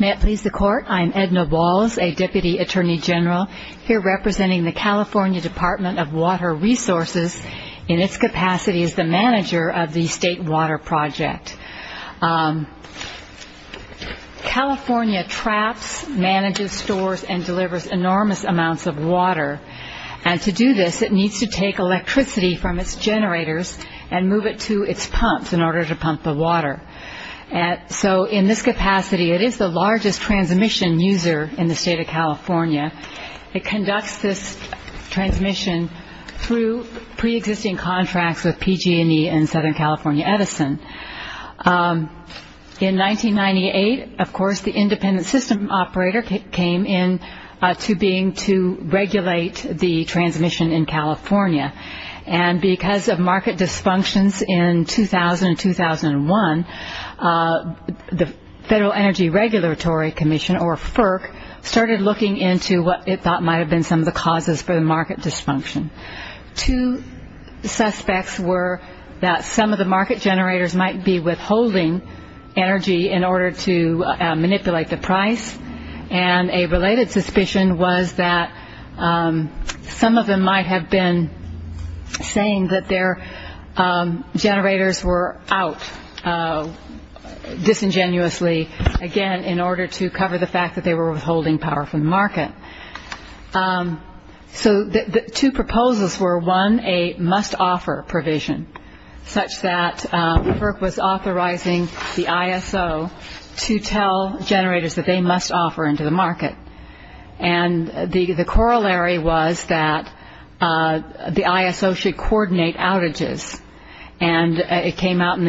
May it please the Court, I am Edna Walls, a Deputy Attorney General, here representing the California Department of Water Resources, in its capacity as the manager of the State Water Project. California traps, manages, stores, and delivers enormous amounts of water. And to do this, it needs to take electricity from its generators and move it to its pumps in order to pump the water. So in this capacity, it is the largest transmission user in the State of California. It conducts this transmission through pre-existing contracts with PG&E and Southern California Edison. In 1998, of course, the independent system operator came into being to regulate the transmission in California. And because of market dysfunctions in 2000 and 2001, the Federal Energy Regulatory Commission, or FERC, started looking into what it thought might have been some of the causes for the market dysfunction. Two suspects were that some of the market generators might be withholding energy in order to manipulate the price. And a related suspicion was that some of them might have been saying that their generators were out disingenuously, again, in order to cover the fact that they were withholding power from the market. So two proposals were, one, a must-offer provision, such that FERC was authorizing the ISO to tell generators that they must offer into the market. And the corollary was that the ISO should coordinate outages. And it came out in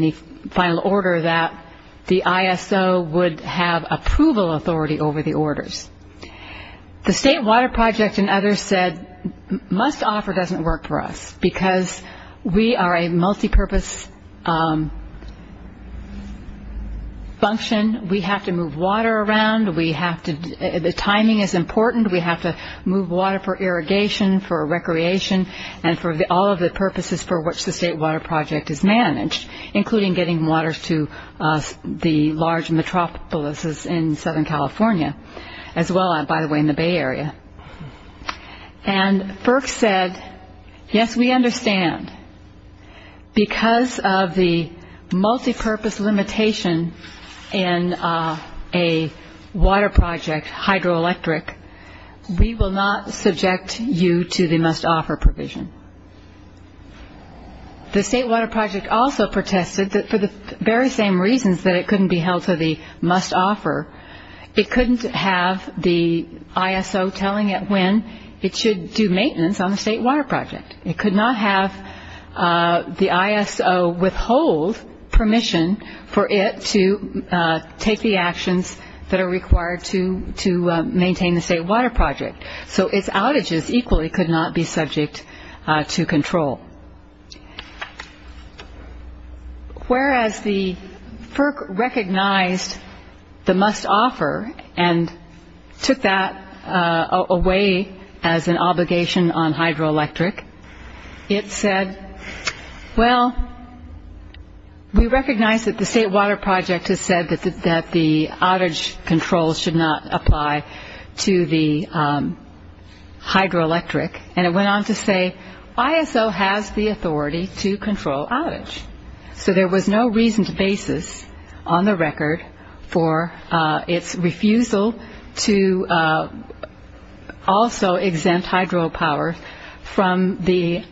the final order that the ISO would have approval authority over the orders. The State Water Project and others said, must-offer doesn't work for us because we are a multipurpose function. We have to move water around. The timing is important. We have to move water for irrigation, for recreation, and for all of the purposes for which the State Water Project is managed, including getting water to the large metropolises in Southern California, as well, by the way, in the Bay Area. And FERC said, yes, we understand. Because of the multipurpose limitation in a water project, hydroelectric, we will not subject you to the must-offer provision. The State Water Project also protested that for the very same reasons that it couldn't be held to the must-offer, it couldn't have the ISO telling it when it should do maintenance on the State Water Project. It could not have the ISO withhold permission for it to take the actions that are required to maintain the State Water Project. So its outages equally could not be subject to control. Whereas the FERC recognized the must-offer and took that away as an obligation on hydroelectric, it said, well, we recognize that the State Water Project has said that the outage control should not apply to the hydroelectric. And it went on to say, ISO has the authority to control outage. So there was no reason to basis on the record for its refusal to also exempt hydropower from the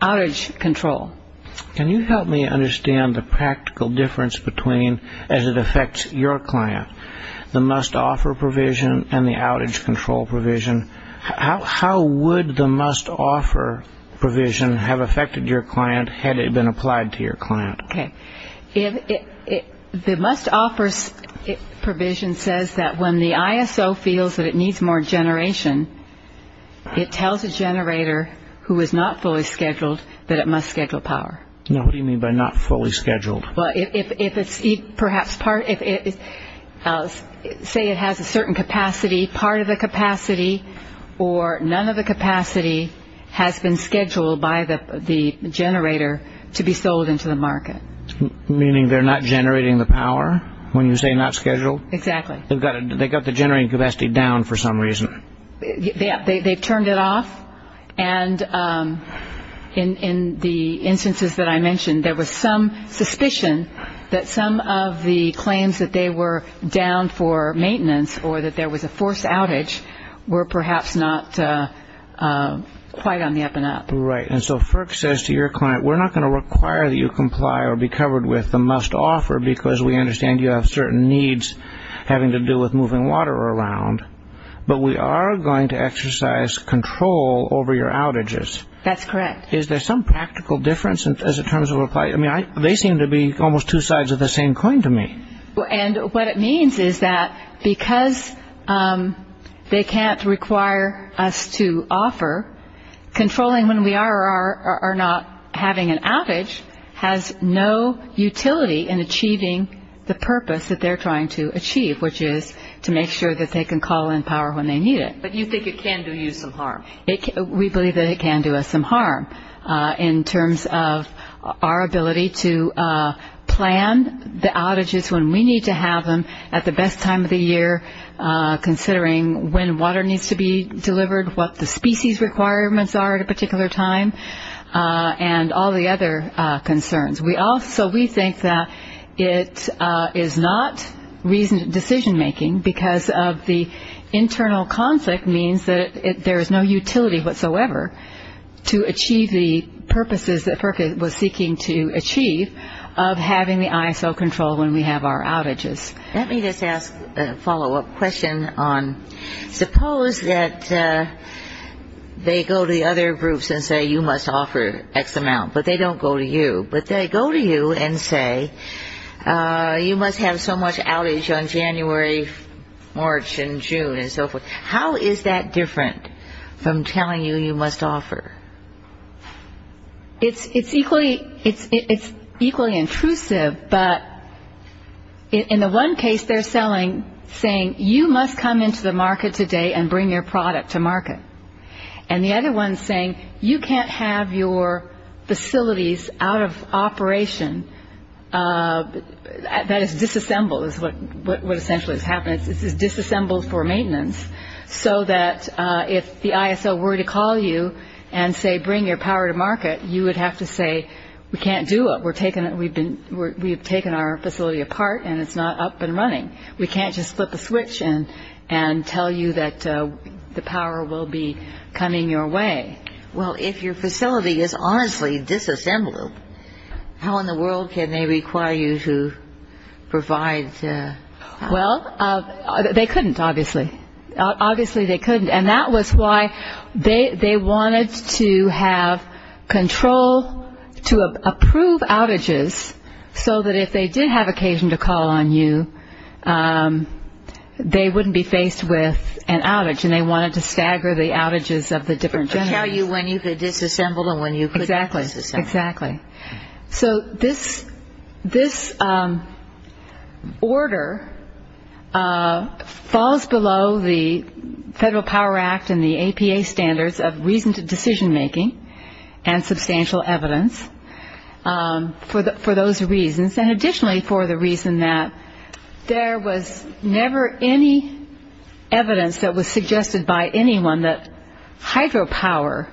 outage control. Can you help me understand the practical difference between, as it affects your client, the must-offer provision and the outage control provision? How would the must-offer provision have affected your client had it been applied to your client? The must-offer provision says that when the ISO feels that it needs more generation, it tells a generator who is not fully scheduled that it must schedule power. What do you mean by not fully scheduled? Well, say it has a certain capacity, part of the capacity, or none of the capacity has been scheduled by the generator to be sold into the market. Meaning they're not generating the power when you say not scheduled? Exactly. They've got the generating capacity down for some reason. They've turned it off. And in the instances that I mentioned, there was some suspicion that some of the claims that they were down for maintenance or that there was a forced outage were perhaps not quite on the up-and-up. Right. And so FERC says to your client, we're not going to require that you comply or be covered with the must-offer because we understand you have certain needs having to do with moving water around, but we are going to exercise control over your outages. That's correct. Is there some practical difference in terms of a client? I mean, they seem to be almost two sides of the same coin to me. And what it means is that because they can't require us to offer, controlling when we are or are not having an outage which is to make sure that they can call in power when they need it. But you think it can do you some harm? We believe that it can do us some harm in terms of our ability to plan the outages when we need to have them at the best time of the year, considering when water needs to be delivered, what the species requirements are at a particular time, and all the other concerns. So we think that it is not decision-making because of the internal conflict means that there is no utility whatsoever to achieve the purposes that FERC was seeking to achieve of having the ISO control when we have our outages. Let me just ask a follow-up question on suppose that they go to the other groups and say you must offer X amount, but they don't go to you, but they go to you and say you must have so much outage on January, March, and June, and so forth. How is that different from telling you you must offer? It's equally intrusive, but in the one case they're saying you must come into the market today and bring your product to market. And the other one is saying you can't have your facilities out of operation. That is disassembled is what essentially is happening. This is disassembled for maintenance so that if the ISO were to call you and say bring your power to market, you would have to say we can't do it. We've taken our facility apart and it's not up and running. We can't just flip a switch and tell you that the power will be coming your way. Well, if your facility is honestly disassembled, how in the world can they require you to provide? Well, they couldn't, obviously. Obviously they couldn't, and that was why they wanted to have control to approve outages so that if they did have occasion to call on you, they wouldn't be faced with an outage, and they wanted to stagger the outages of the different generators. To tell you when you could disassemble and when you couldn't disassemble. Exactly, exactly. So this order falls below the Federal Power Act and the APA standards of reasoned decision making and substantial evidence. For those reasons, and additionally for the reason that there was never any evidence that was suggested by anyone that hydropower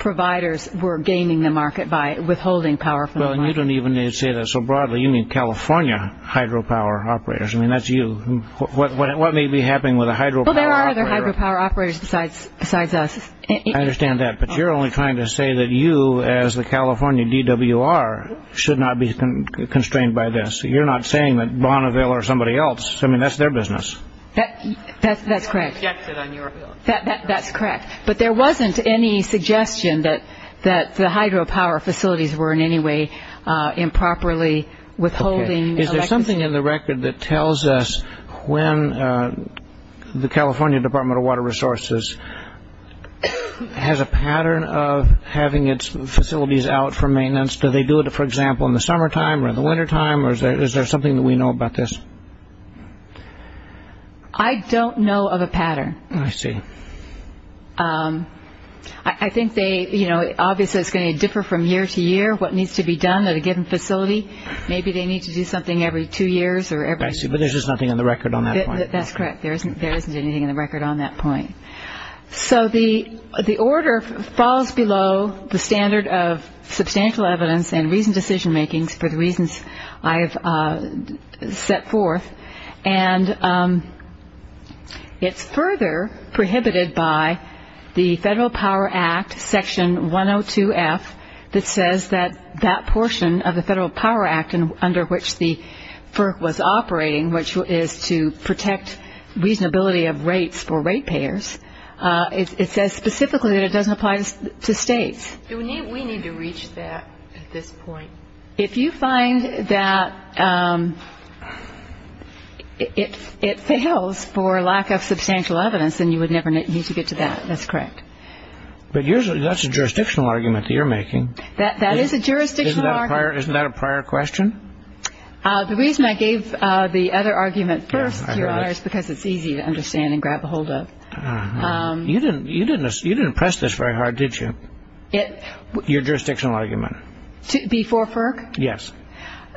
providers were gaining the market by withholding power from the market. Well, you don't even say that so broadly. You mean California hydropower operators. I mean, that's you. What may be happening with a hydropower operator? Well, there are other hydropower operators besides us. I understand that, but you're only trying to say that you as the California DWR should not be constrained by this. You're not saying that Bonneville or somebody else. I mean, that's their business. That's correct. But there wasn't any suggestion that the hydropower facilities were in any way improperly withholding electricity. There's something in the record that tells us when the California Department of Water Resources has a pattern of having its facilities out for maintenance. Do they do it, for example, in the summertime or the wintertime? Or is there something that we know about this? I don't know of a pattern. I see. I think they, you know, obviously it's going to differ from year to year what needs to be done at a given facility. Maybe they need to do something every two years or every- I see. But there's just nothing in the record on that point. That's correct. There isn't anything in the record on that point. So the order falls below the standard of substantial evidence and reasoned decision-making for the reasons I have set forth. And it's further prohibited by the Federal Power Act, Section 102F, that says that that portion of the Federal Power Act under which the FERC was operating, which is to protect reasonability of rates for ratepayers, it says specifically that it doesn't apply to states. We need to reach that at this point. If you find that it fails for lack of substantial evidence, then you would never need to get to that. That's correct. But that's a jurisdictional argument that you're making. That is a jurisdictional argument. Isn't that a prior question? The reason I gave the other argument first, Your Honor, is because it's easy to understand and grab ahold of. You didn't press this very hard, did you, your jurisdictional argument? Before FERC? Yes.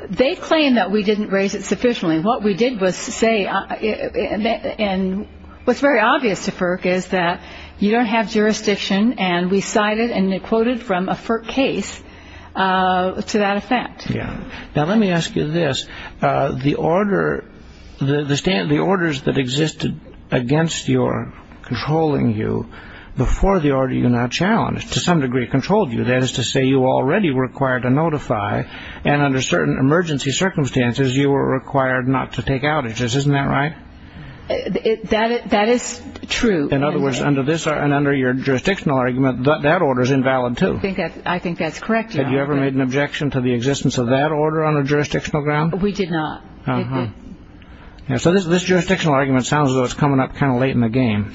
They claim that we didn't raise it sufficiently. What we did was say, and what's very obvious to FERC is that you don't have jurisdiction, and we cited and quoted from a FERC case to that effect. Yeah. Now, let me ask you this. The orders that existed against your controlling you before the order you now challenged to some degree controlled you, that is to say you already were required to notify, and under certain emergency circumstances you were required not to take outages. Isn't that right? That is true. In other words, under your jurisdictional argument, that order is invalid, too. I think that's correct, Your Honor. Had you ever made an objection to the existence of that order on a jurisdictional ground? We did not. So this jurisdictional argument sounds as though it's coming up kind of late in the game.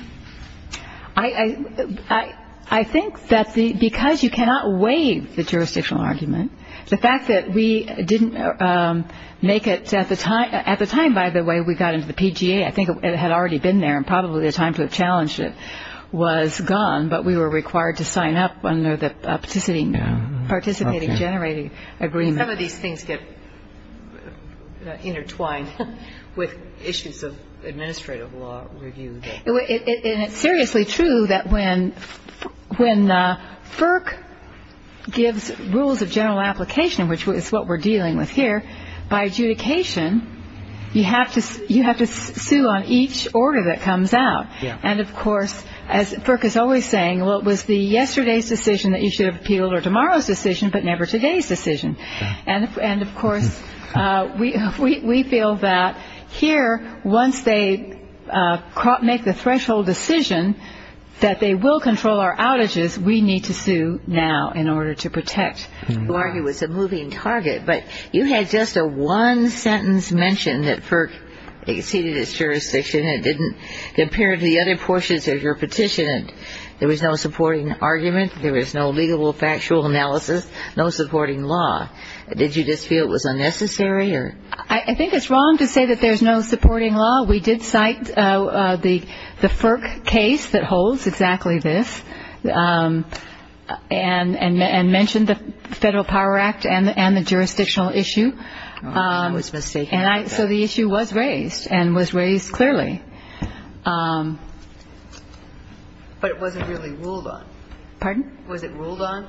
I think that because you cannot waive the jurisdictional argument, the fact that we didn't make it at the time by the way we got into the PGA, I think it had already been there and probably the time to have challenged it was gone, but we were required to sign up under the participating, generating agreement. Some of these things get intertwined with issues of administrative law review. And it's seriously true that when FERC gives rules of general application, which is what we're dealing with here, by adjudication you have to sue on each order that comes out. And, of course, as FERC is always saying, well, it was yesterday's decision that you should have appealed or tomorrow's decision, but never today's decision. And, of course, we feel that here once they make the threshold decision that they will control our outages, we need to sue now in order to protect. It was a moving target, but you had just a one-sentence mention that FERC exceeded its jurisdiction. It didn't compare to the other portions of your petition. There was no supporting argument. There was no legal factual analysis, no supporting law. Did you just feel it was unnecessary? I think it's wrong to say that there's no supporting law. We did cite the FERC case that holds exactly this and mention the Federal Power Act and the jurisdictional issue. I was mistaken about that. So the issue was raised and was raised clearly. But it wasn't really ruled on. Pardon? Was it ruled on?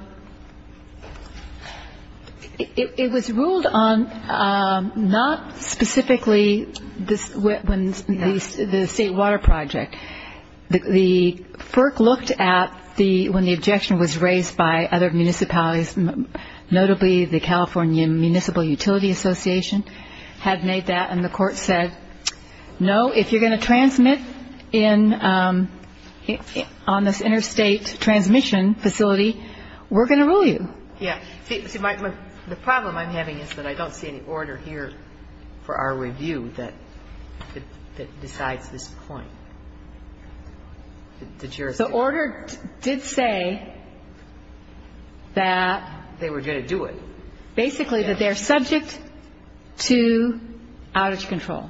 It was ruled on not specifically the State Water Project. The FERC looked at when the objection was raised by other municipalities, notably the California Municipal Utility Association had made that, And the Court said, no, if you're going to transmit on this interstate transmission facility, we're going to rule you. Yeah. See, the problem I'm having is that I don't see any order here for our review that decides this point. The order did say that they were going to do it. Basically, that they're subject to outage control.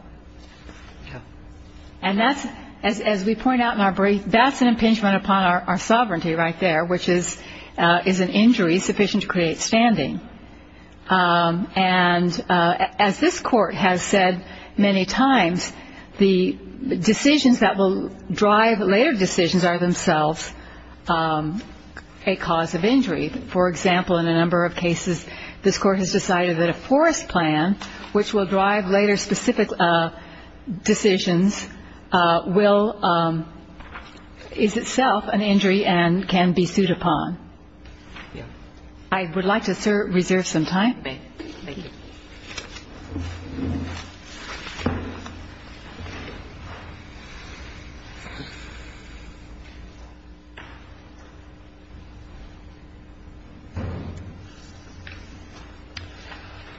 And that's, as we point out in our brief, that's an impingement upon our sovereignty right there, which is an injury sufficient to create standing. And as this Court has said many times, the decisions that will drive later decisions are themselves a cause of injury. For example, in a number of cases, this Court has decided that a forest plan, which will drive later specific decisions, is itself an injury and can be sued upon. I would like to reserve some time. Thank you.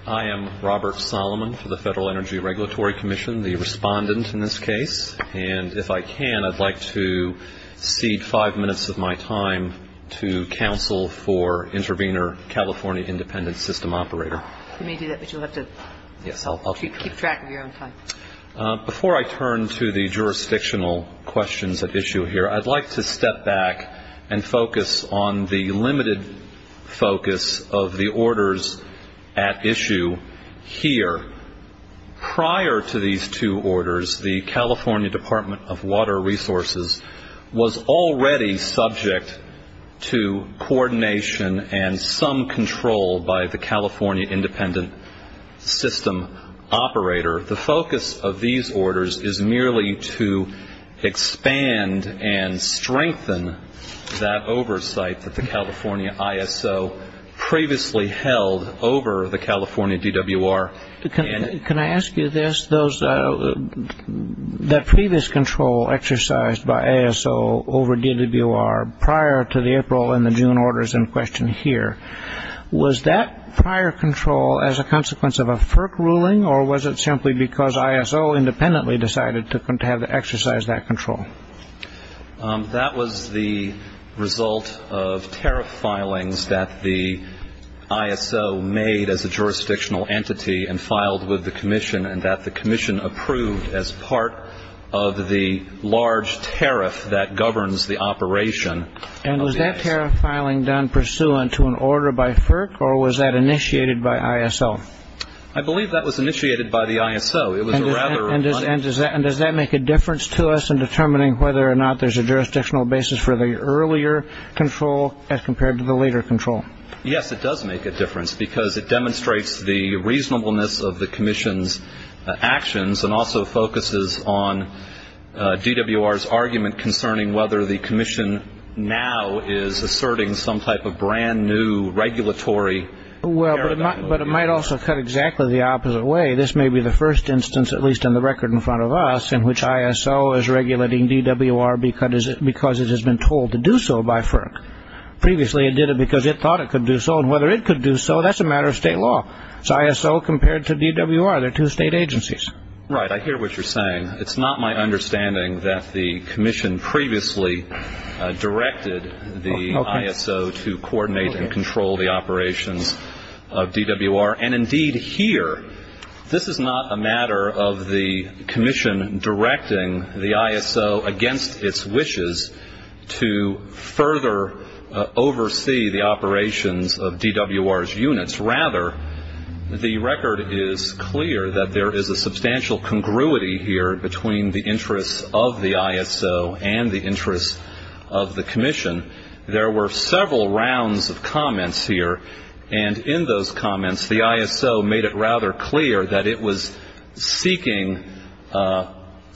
I am Robert Solomon for the Federal Energy Regulatory Commission, the respondent in this case. And if I can, I'd like to cede five minutes of my time to counsel for Intervenor California Independent System Operator. You may do that, but you'll have to keep track of your own time. Before I turn to the jurisdictional questions at issue here, I'd like to step back and focus on the limited focus of the orders at issue here. Prior to these two orders, the California Department of Water Resources was already subject to coordination and some control by the California Independent System Operator. The focus of these orders is merely to expand and strengthen that oversight that the California ISO previously held over the California DWR. Can I ask you this? That previous control exercised by ISO over DWR prior to the April and the June orders in question here, was that prior control as a consequence of a FERC ruling, or was it simply because ISO independently decided to have to exercise that control? That was the result of tariff filings that the ISO made as a jurisdictional entity and filed with the commission and that the commission approved as part of the large tariff that governs the operation. And was that tariff filing done pursuant to an order by FERC, or was that initiated by ISO? I believe that was initiated by the ISO. And does that make a difference to us in determining whether or not there's a jurisdictional basis for the earlier control as compared to the later control? Yes, it does make a difference because it demonstrates the reasonableness of the commission's actions and also focuses on DWR's argument concerning whether the commission now is asserting some type of brand new regulatory paradigm. But it might also cut exactly the opposite way. This may be the first instance, at least on the record in front of us, in which ISO is regulating DWR because it has been told to do so by FERC. Previously it did it because it thought it could do so, and whether it could do so, that's a matter of state law. It's ISO compared to DWR. They're two state agencies. Right. I hear what you're saying. It's not my understanding that the commission previously directed the ISO to coordinate and control the operations of DWR. And indeed here, this is not a matter of the commission directing the ISO against its wishes to further oversee the operations of DWR's units. Rather, the record is clear that there is a substantial congruity here between the interests of the ISO and the interests of the commission. There were several rounds of comments here. And in those comments, the ISO made it rather clear that it was seeking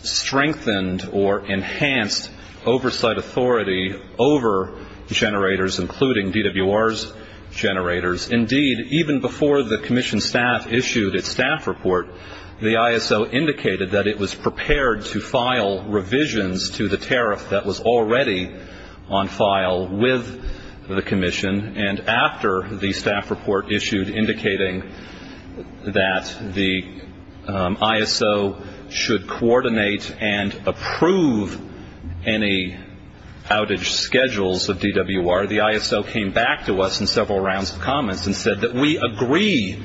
strengthened or enhanced oversight authority over generators, including DWR's generators. Indeed, even before the commission staff issued its staff report, the ISO indicated that it was prepared to file revisions to the tariff that was already on file with the commission. And after the staff report issued indicating that the ISO should coordinate and approve any outage schedules of DWR, the ISO came back to us in several rounds of comments and said that we agree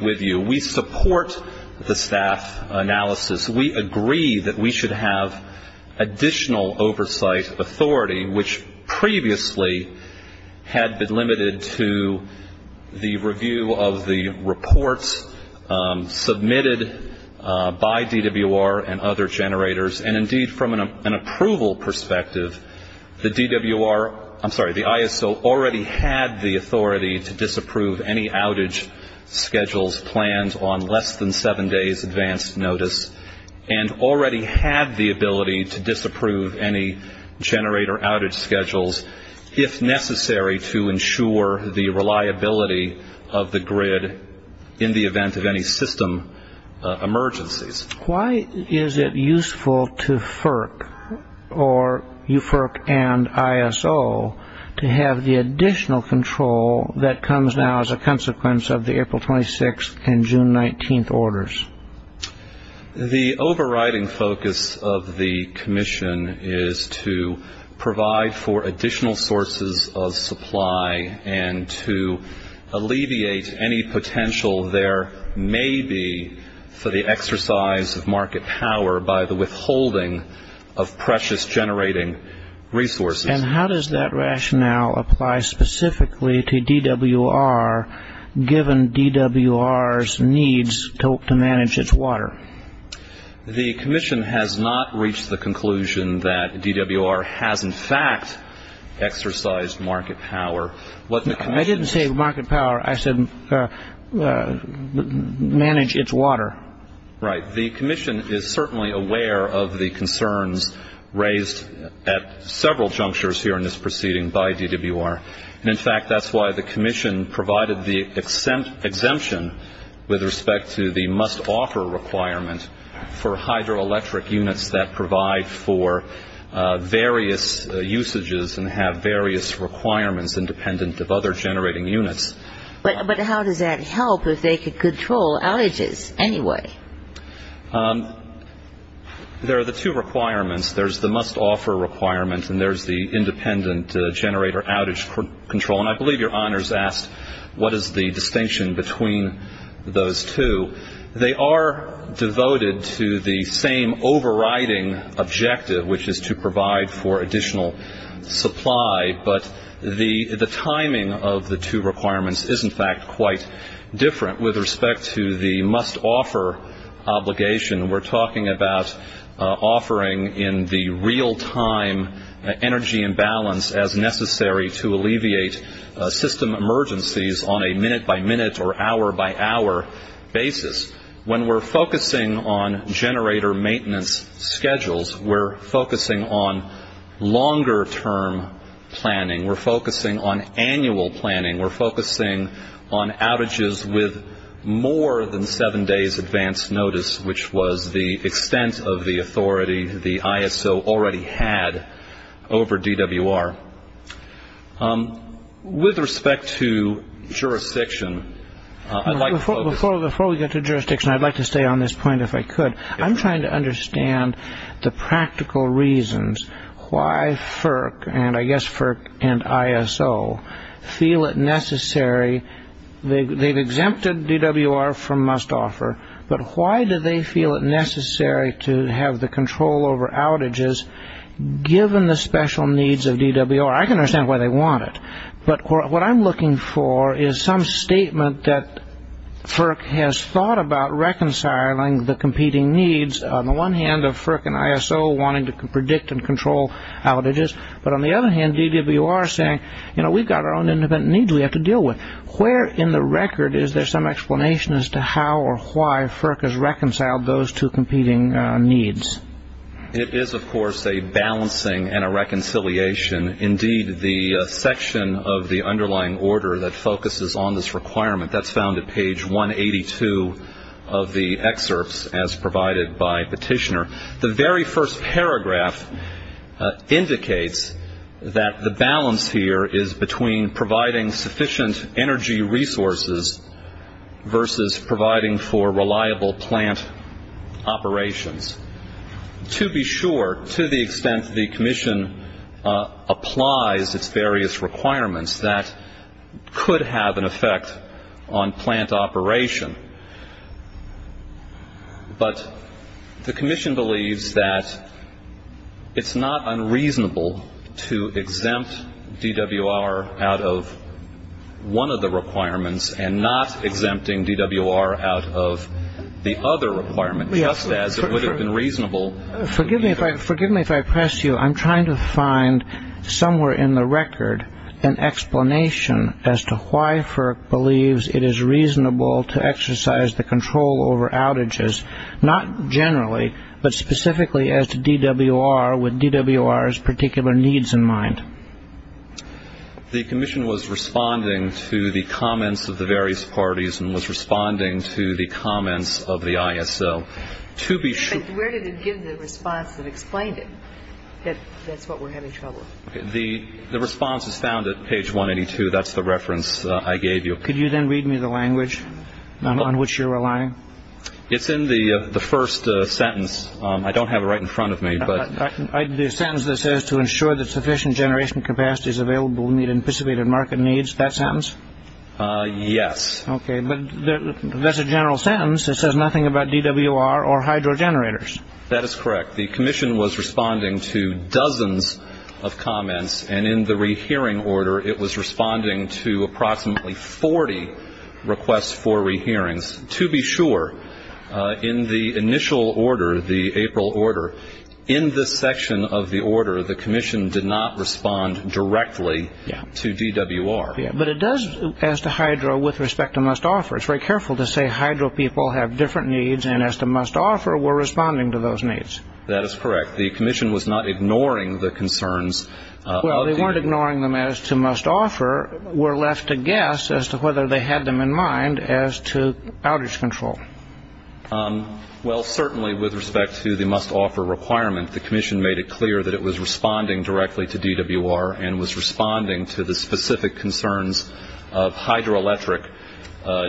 with you. We support the staff analysis. We agree that we should have additional oversight authority, which previously had been limited to the review of the reports submitted by DWR and other generators. And indeed, from an approval perspective, the DWR, I'm sorry, the ISO already had the authority to disapprove any outage schedules planned on less than seven days advance notice and already had the ability to disapprove any generator outage schedules, if necessary, to ensure the reliability of the grid in the event of any system emergencies. Why is it useful to FERC or UFERC and ISO to have the additional control that comes now as a consequence of the April 26th and June 19th orders? The overriding focus of the commission is to provide for additional sources of supply and to alleviate any potential there may be for the exercise of market power by the withholding of precious generating resources. And how does that rationale apply specifically to DWR, given DWR's needs to manage its water? The commission has not reached the conclusion that DWR has, in fact, exercised market power. I didn't say market power. I said manage its water. Right. The commission is certainly aware of the concerns raised at several junctures here in this proceeding by DWR. And, in fact, that's why the commission provided the exemption with respect to the must-offer requirement for hydroelectric units that provide for various usages and have various requirements independent of other generating units. But how does that help if they could control outages anyway? There are the two requirements. There's the must-offer requirement and there's the independent generator outage control. And I believe your honors asked what is the distinction between those two. They are devoted to the same overriding objective, which is to provide for additional supply. But the timing of the two requirements is, in fact, quite different. With respect to the must-offer obligation, we're talking about offering in the real-time energy imbalance as necessary to alleviate system emergencies on a minute-by-minute or hour-by-hour basis. When we're focusing on generator maintenance schedules, we're focusing on longer-term planning. We're focusing on annual planning. We're focusing on outages with more than seven days' advance notice, which was the extent of the authority the ISO already had over DWR. With respect to jurisdiction, I'd like to focus on- Before we get to jurisdiction, I'd like to stay on this point, if I could. I'm trying to understand the practical reasons why FERC, and I guess FERC and ISO, feel it necessary. They've exempted DWR from must-offer, but why do they feel it necessary to have the control over outages given the special needs of DWR? I can understand why they want it, but what I'm looking for is some statement that FERC has thought about reconciling the competing needs, on the one hand, of FERC and ISO wanting to predict and control outages, but on the other hand, DWR saying, you know, we've got our own independent needs we have to deal with. Where in the record is there some explanation as to how or why FERC has reconciled those two competing needs? It is, of course, a balancing and a reconciliation. Indeed, the section of the underlying order that focuses on this requirement, that's found at page 182 of the excerpts as provided by Petitioner. The very first paragraph indicates that the balance here is between providing sufficient energy resources versus providing for reliable plant operations. To be sure, to the extent the commission applies its various requirements, that could have an effect on plant operation. But the commission believes that it's not unreasonable to exempt DWR out of one of the requirements and not exempting DWR out of the other requirement, just as it would have been reasonable. Forgive me if I press you. I'm trying to find somewhere in the record an explanation as to why FERC believes it is reasonable to exercise the control over outages, not generally, but specifically as to DWR with DWR's particular needs in mind. The commission was responding to the comments of the various parties and was responding to the comments of the ISL. Where did it give the response that explained it, that that's what we're having trouble with? The response is found at page 182. That's the reference I gave you. Could you then read me the language on which you're relying? It's in the first sentence. I don't have it right in front of me. The sentence that says to ensure that sufficient generation capacity is available in the anticipated market needs, that sentence? Yes. Okay. But that's a general sentence. It says nothing about DWR or hydro generators. That is correct. The commission was responding to dozens of comments. And in the rehearing order, it was responding to approximately 40 requests for rehearings. And to be sure, in the initial order, the April order, in this section of the order, the commission did not respond directly to DWR. But it does, as to hydro, with respect to must-offer. It's very careful to say hydro people have different needs, and as to must-offer, we're responding to those needs. That is correct. The commission was not ignoring the concerns. Well, they weren't ignoring them as to must-offer. We're left to guess as to whether they had them in mind as to outage control. Well, certainly with respect to the must-offer requirement, the commission made it clear that it was responding directly to DWR and was responding to the specific concerns of hydroelectric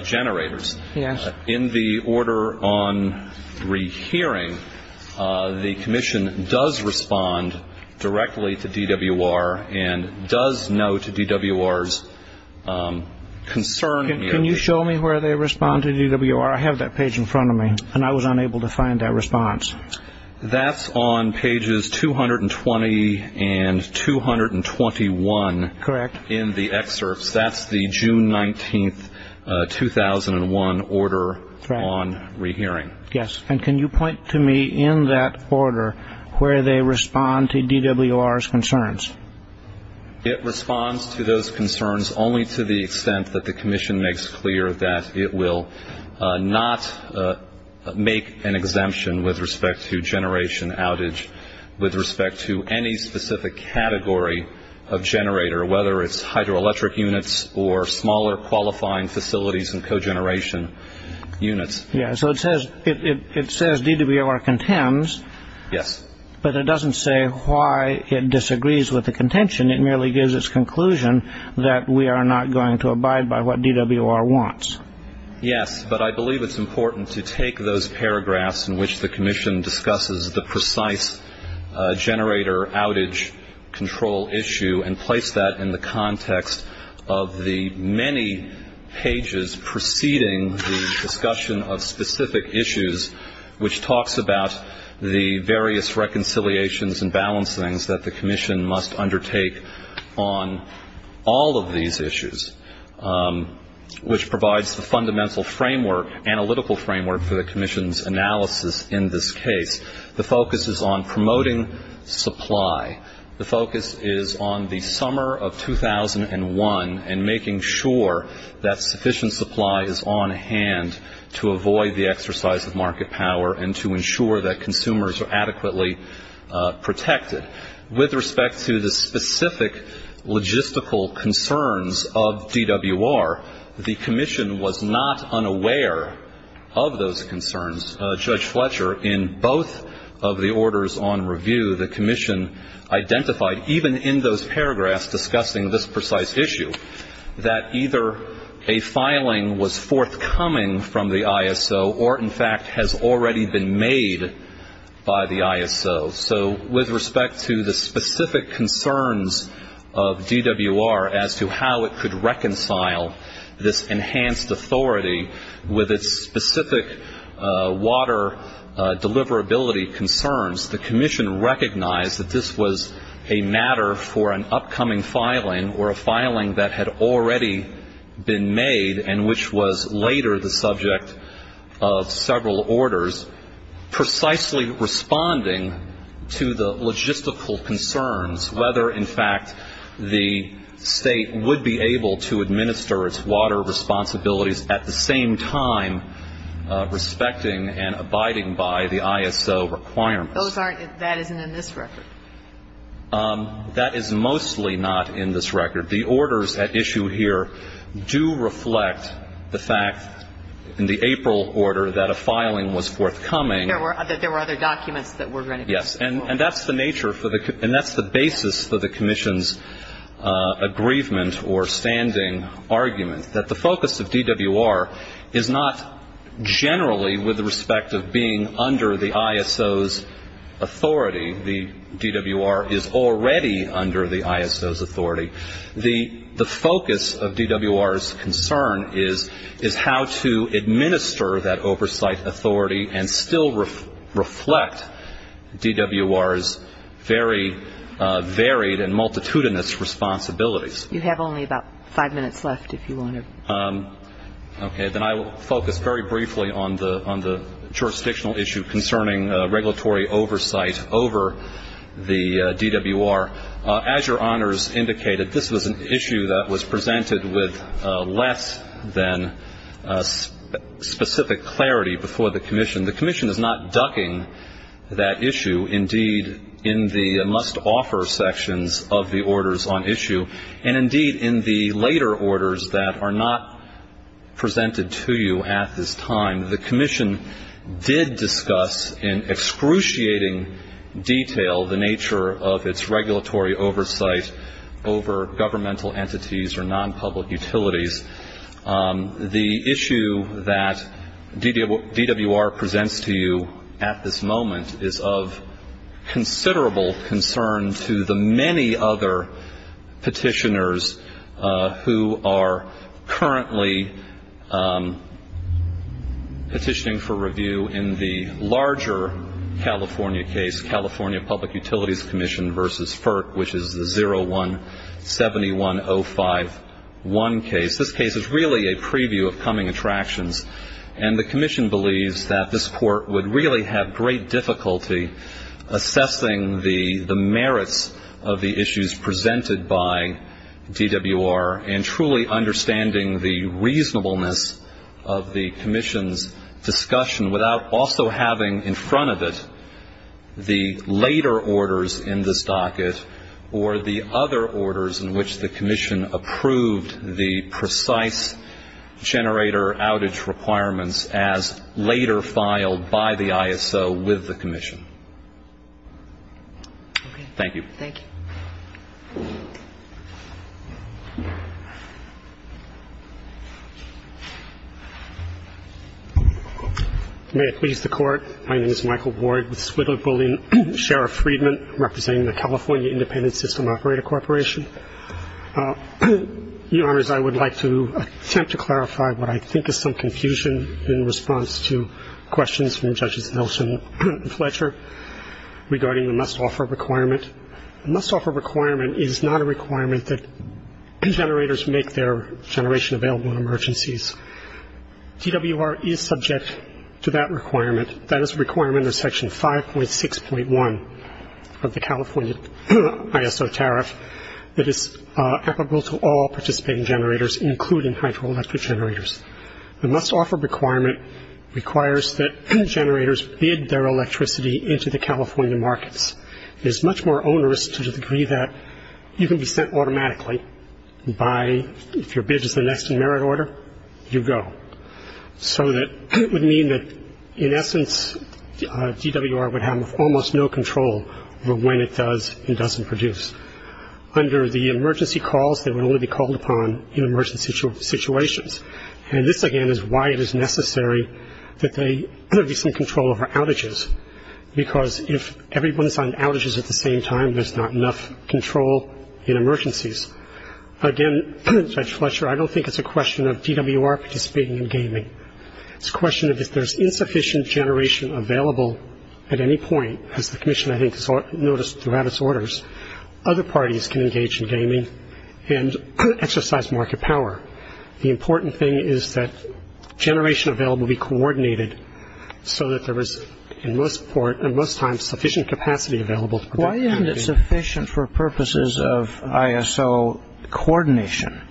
generators. Yes. In the order on rehearing, the commission does respond directly to DWR and does note DWR's concern. Can you show me where they respond to DWR? I have that page in front of me, and I was unable to find that response. That's on pages 220 and 221. Correct. That's the June 19, 2001, order on rehearing. Yes. And can you point to me in that order where they respond to DWR's concerns? It responds to those concerns only to the extent that the commission makes clear that it will not make an exemption with respect to generation outage, with respect to any specific category of generator, whether it's hydroelectric units or smaller qualifying facilities and cogeneration units. Yes. So it says DWR contends. Yes. But it doesn't say why it disagrees with the contention. It merely gives its conclusion that we are not going to abide by what DWR wants. Yes, but I believe it's important to take those paragraphs in which the commission discusses the precise generator outage control issue and place that in the context of the many pages preceding the discussion of specific issues, which talks about the various reconciliations and balancings that the commission must undertake on all of these issues, which provides the fundamental framework, analytical framework, for the commission's analysis in this case. The focus is on promoting supply. The focus is on the summer of 2001 and making sure that sufficient supply is on hand to avoid the exercise of market power and to ensure that consumers are adequately protected. With respect to the specific logistical concerns of DWR, the commission was not unaware of those concerns. Judge Fletcher, in both of the orders on review, the commission identified, even in those paragraphs discussing this precise issue, that either a filing was forthcoming from the ISO or, in fact, has already been made by the ISO. So with respect to the specific concerns of DWR as to how it could reconcile this enhanced authority with its specific water deliverability concerns, the commission recognized that this was a matter for an upcoming filing or a filing that had already been made and which was later the subject of several orders, precisely responding to the logistical concerns, whether, in fact, the State would be able to administer its water responsibilities at the same time respecting and abiding by the ISO requirements. Those aren't in this record. That is mostly not in this record. The orders at issue here do reflect the fact, in the April order, that a filing was forthcoming. There were other documents that were going to be forthcoming. Yes, and that's the basis for the commission's aggrievement or standing argument, that the focus of DWR is not generally with respect of being under the ISO's authority. The DWR is already under the ISO's authority. The focus of DWR's concern is how to administer that oversight authority and still reflect DWR's very varied and multitudinous responsibilities. You have only about five minutes left if you want to. Okay. Then I will focus very briefly on the jurisdictional issue concerning regulatory oversight over the DWR. As your honors indicated, this was an issue that was presented with less than specific clarity before the commission. The commission is not ducking that issue. Indeed, in the must-offer sections of the orders on issue, and indeed in the later orders that are not presented to you at this time, the commission did discuss in excruciating detail the nature of its regulatory oversight over governmental entities or non-public utilities. The issue that DWR presents to you at this moment is of considerable concern to the many other petitioners who are currently petitioning for review in the larger California case, California Public Utilities Commission v. FERC, which is the 0171051 case. This case is really a preview of coming attractions, and the commission believes that this court would really have great difficulty assessing the merits of the issues presented by DWR and truly understanding the reasonableness of the commission's discussion without also having in front of it the later orders in this docket or the other orders in which the commission approved the precise generator outage requirements as later filed by the ISO with the commission. Thank you. Thank you. May it please the Court. My name is Michael Ward with Swidler Bullion, Sheriff Friedman, representing the California Independent System Operator Corporation. Your Honors, I would like to attempt to clarify what I think is some confusion in response to questions from Judges Nelson and Fletcher regarding the must-offer requirement. The must-offer requirement is not a requirement that generators make their generation available in emergencies. DWR is subject to that requirement. That is a requirement in Section 5.6.1 of the California ISO tariff that is applicable to all participating generators, including hydroelectric generators. The must-offer requirement requires that generators bid their electricity into the California markets. It is much more onerous to the degree that you can be sent automatically by if your bid is the next in merit order, you go. So that would mean that, in essence, DWR would have almost no control over when it does and doesn't produce. Under the emergency calls, they would only be called upon in emergency situations. And this, again, is why it is necessary that there be some control over outages, because if everyone is on outages at the same time, there is not enough control in emergencies. Again, Judge Fletcher, I don't think it is a question of DWR participating in gaming. It is a question of if there is insufficient generation available at any point, as the Commission, I think, has noticed throughout its orders, other parties can engage in gaming and exercise market power. The important thing is that generation available be coordinated so that there is, in most times, sufficient capacity available. Why isn't it sufficient for purposes of ISO coordination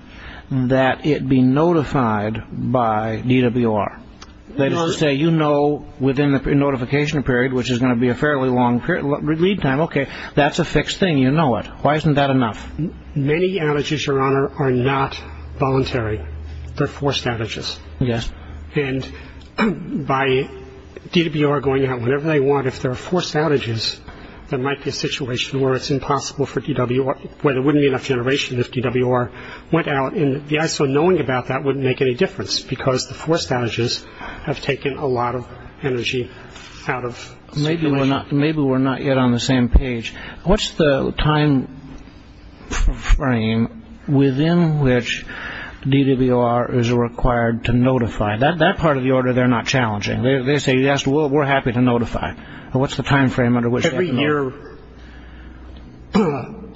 that it be notified by DWR? Let us say you know within the notification period, which is going to be a fairly long lead time, okay, that is a fixed thing, you know it. Why isn't that enough? Many outages, Your Honor, are not voluntary. They are forced outages. Yes. And by DWR going out whenever they want, if there are forced outages, there might be a situation where it is impossible for DWR, where there wouldn't be enough generation if DWR went out. And the ISO knowing about that wouldn't make any difference, because the forced outages have taken a lot of energy out of the situation. Maybe we are not yet on the same page. What is the time frame within which DWR is required to notify? That part of the order they are not challenging. They say yes, we are happy to notify. What is the time frame under which they notify? Every year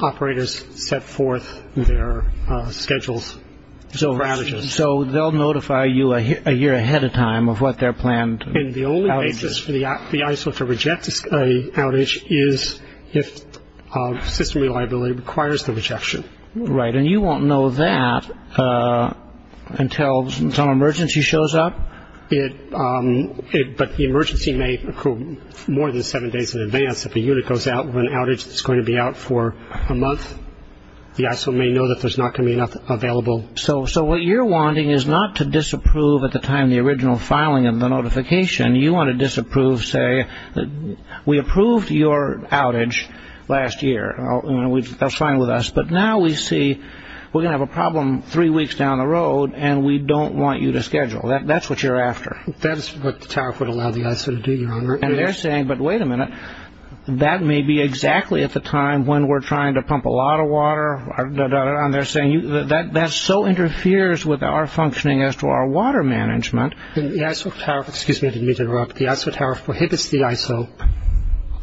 operators set forth their schedules for outages. So they will notify you a year ahead of time of what their planned outage is. The reason for the ISO to reject an outage is if system reliability requires the rejection. Right. And you won't know that until an emergency shows up? But the emergency may occur more than seven days in advance. If a unit goes out with an outage that is going to be out for a month, the ISO may know that there is not going to be enough available. So what you are wanting is not to disapprove at the time of the original filing of the notification. You want to disapprove, say, we approved your outage last year. That is fine with us. But now we see we are going to have a problem three weeks down the road, and we don't want you to schedule. That is what you are after. That is what the tariff would allow the ISO to do, Your Honor. And they are saying, but wait a minute, that may be exactly at the time when we are trying to pump a lot of water. And they are saying that so interferes with our functioning as to our water management. Excuse me, I didn't mean to interrupt. The ISO tariff prohibits the ISO,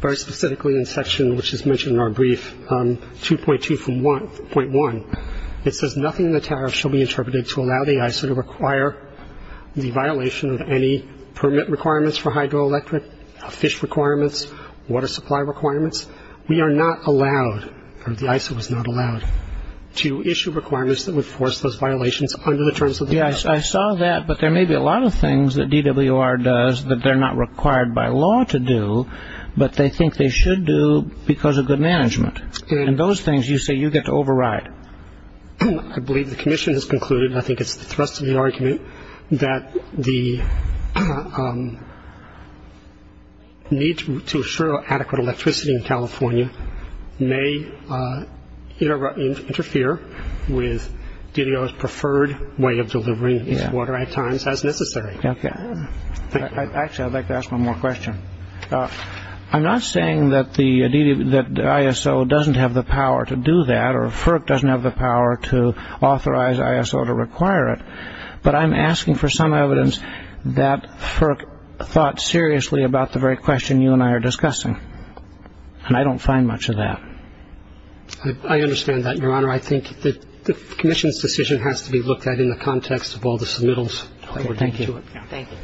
very specifically in Section, which is mentioned in our brief, 2.2.1. It says nothing in the tariff shall be interpreted to allow the ISO to require the violation of any permit requirements for hydroelectric, fish requirements, water supply requirements. We are not allowed, or the ISO is not allowed, to issue requirements that would force those violations under the terms of the ISO. I saw that, but there may be a lot of things that DWR does that they are not required by law to do, but they think they should do because of good management. And those things you say you get to override. I believe the Commission has concluded, and I think it is the thrust of the argument, that the need to assure adequate electricity in California may interfere with DDO's preferred way of delivering water at times as necessary. Actually, I would like to ask one more question. I'm not saying that the ISO doesn't have the power to do that, or FERC doesn't have the power to authorize ISO to require it, but I'm asking for some evidence that FERC thought seriously about the very question you and I are discussing. And I don't find much of that. I understand that, Your Honor. I think the Commission's decision has to be looked at in the context of all the submittals. Thank you. Thank you.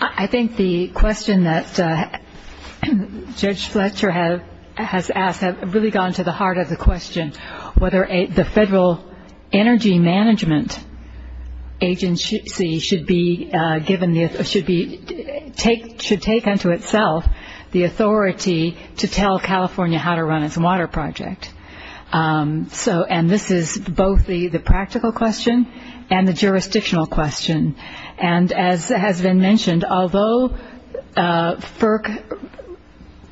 I think the question that Judge Fletcher has asked has really gone to the heart of the question whether the Federal Energy Management Agency should take unto itself the authority to tell California how to run its water project. And this is both the practical question and the jurisdictional question. And as has been mentioned, although FERC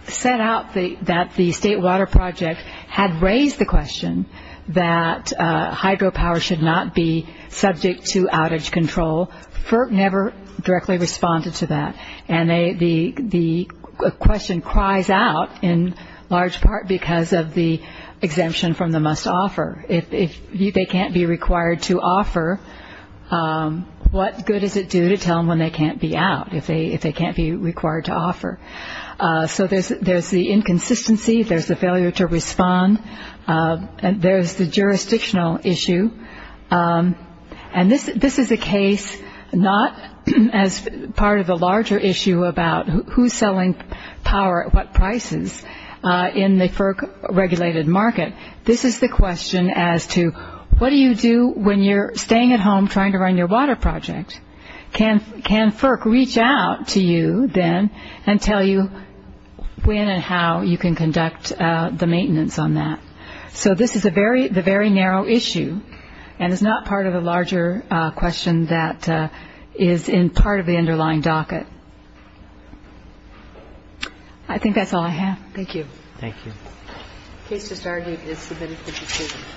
set out that the State Water Project had raised the question that hydropower should not be subject to outage control, FERC never directly responded to that. And the question cries out in large part because of the exemption from the must-offer. If they can't be required to offer, what good does it do to tell them when they can't be out if they can't be required to offer? So there's the inconsistency. There's the failure to respond. There's the jurisdictional issue. And this is a case not as part of the larger issue about who's selling power at what prices in the FERC-regulated market. This is the question as to what do you do when you're staying at home trying to run your water project? Can FERC reach out to you then and tell you when and how you can conduct the maintenance on that? So this is the very narrow issue and is not part of the larger question that is in part of the underlying docket. I think that's all I have. Thank you. Thank you. The case has already been submitted. Thank you.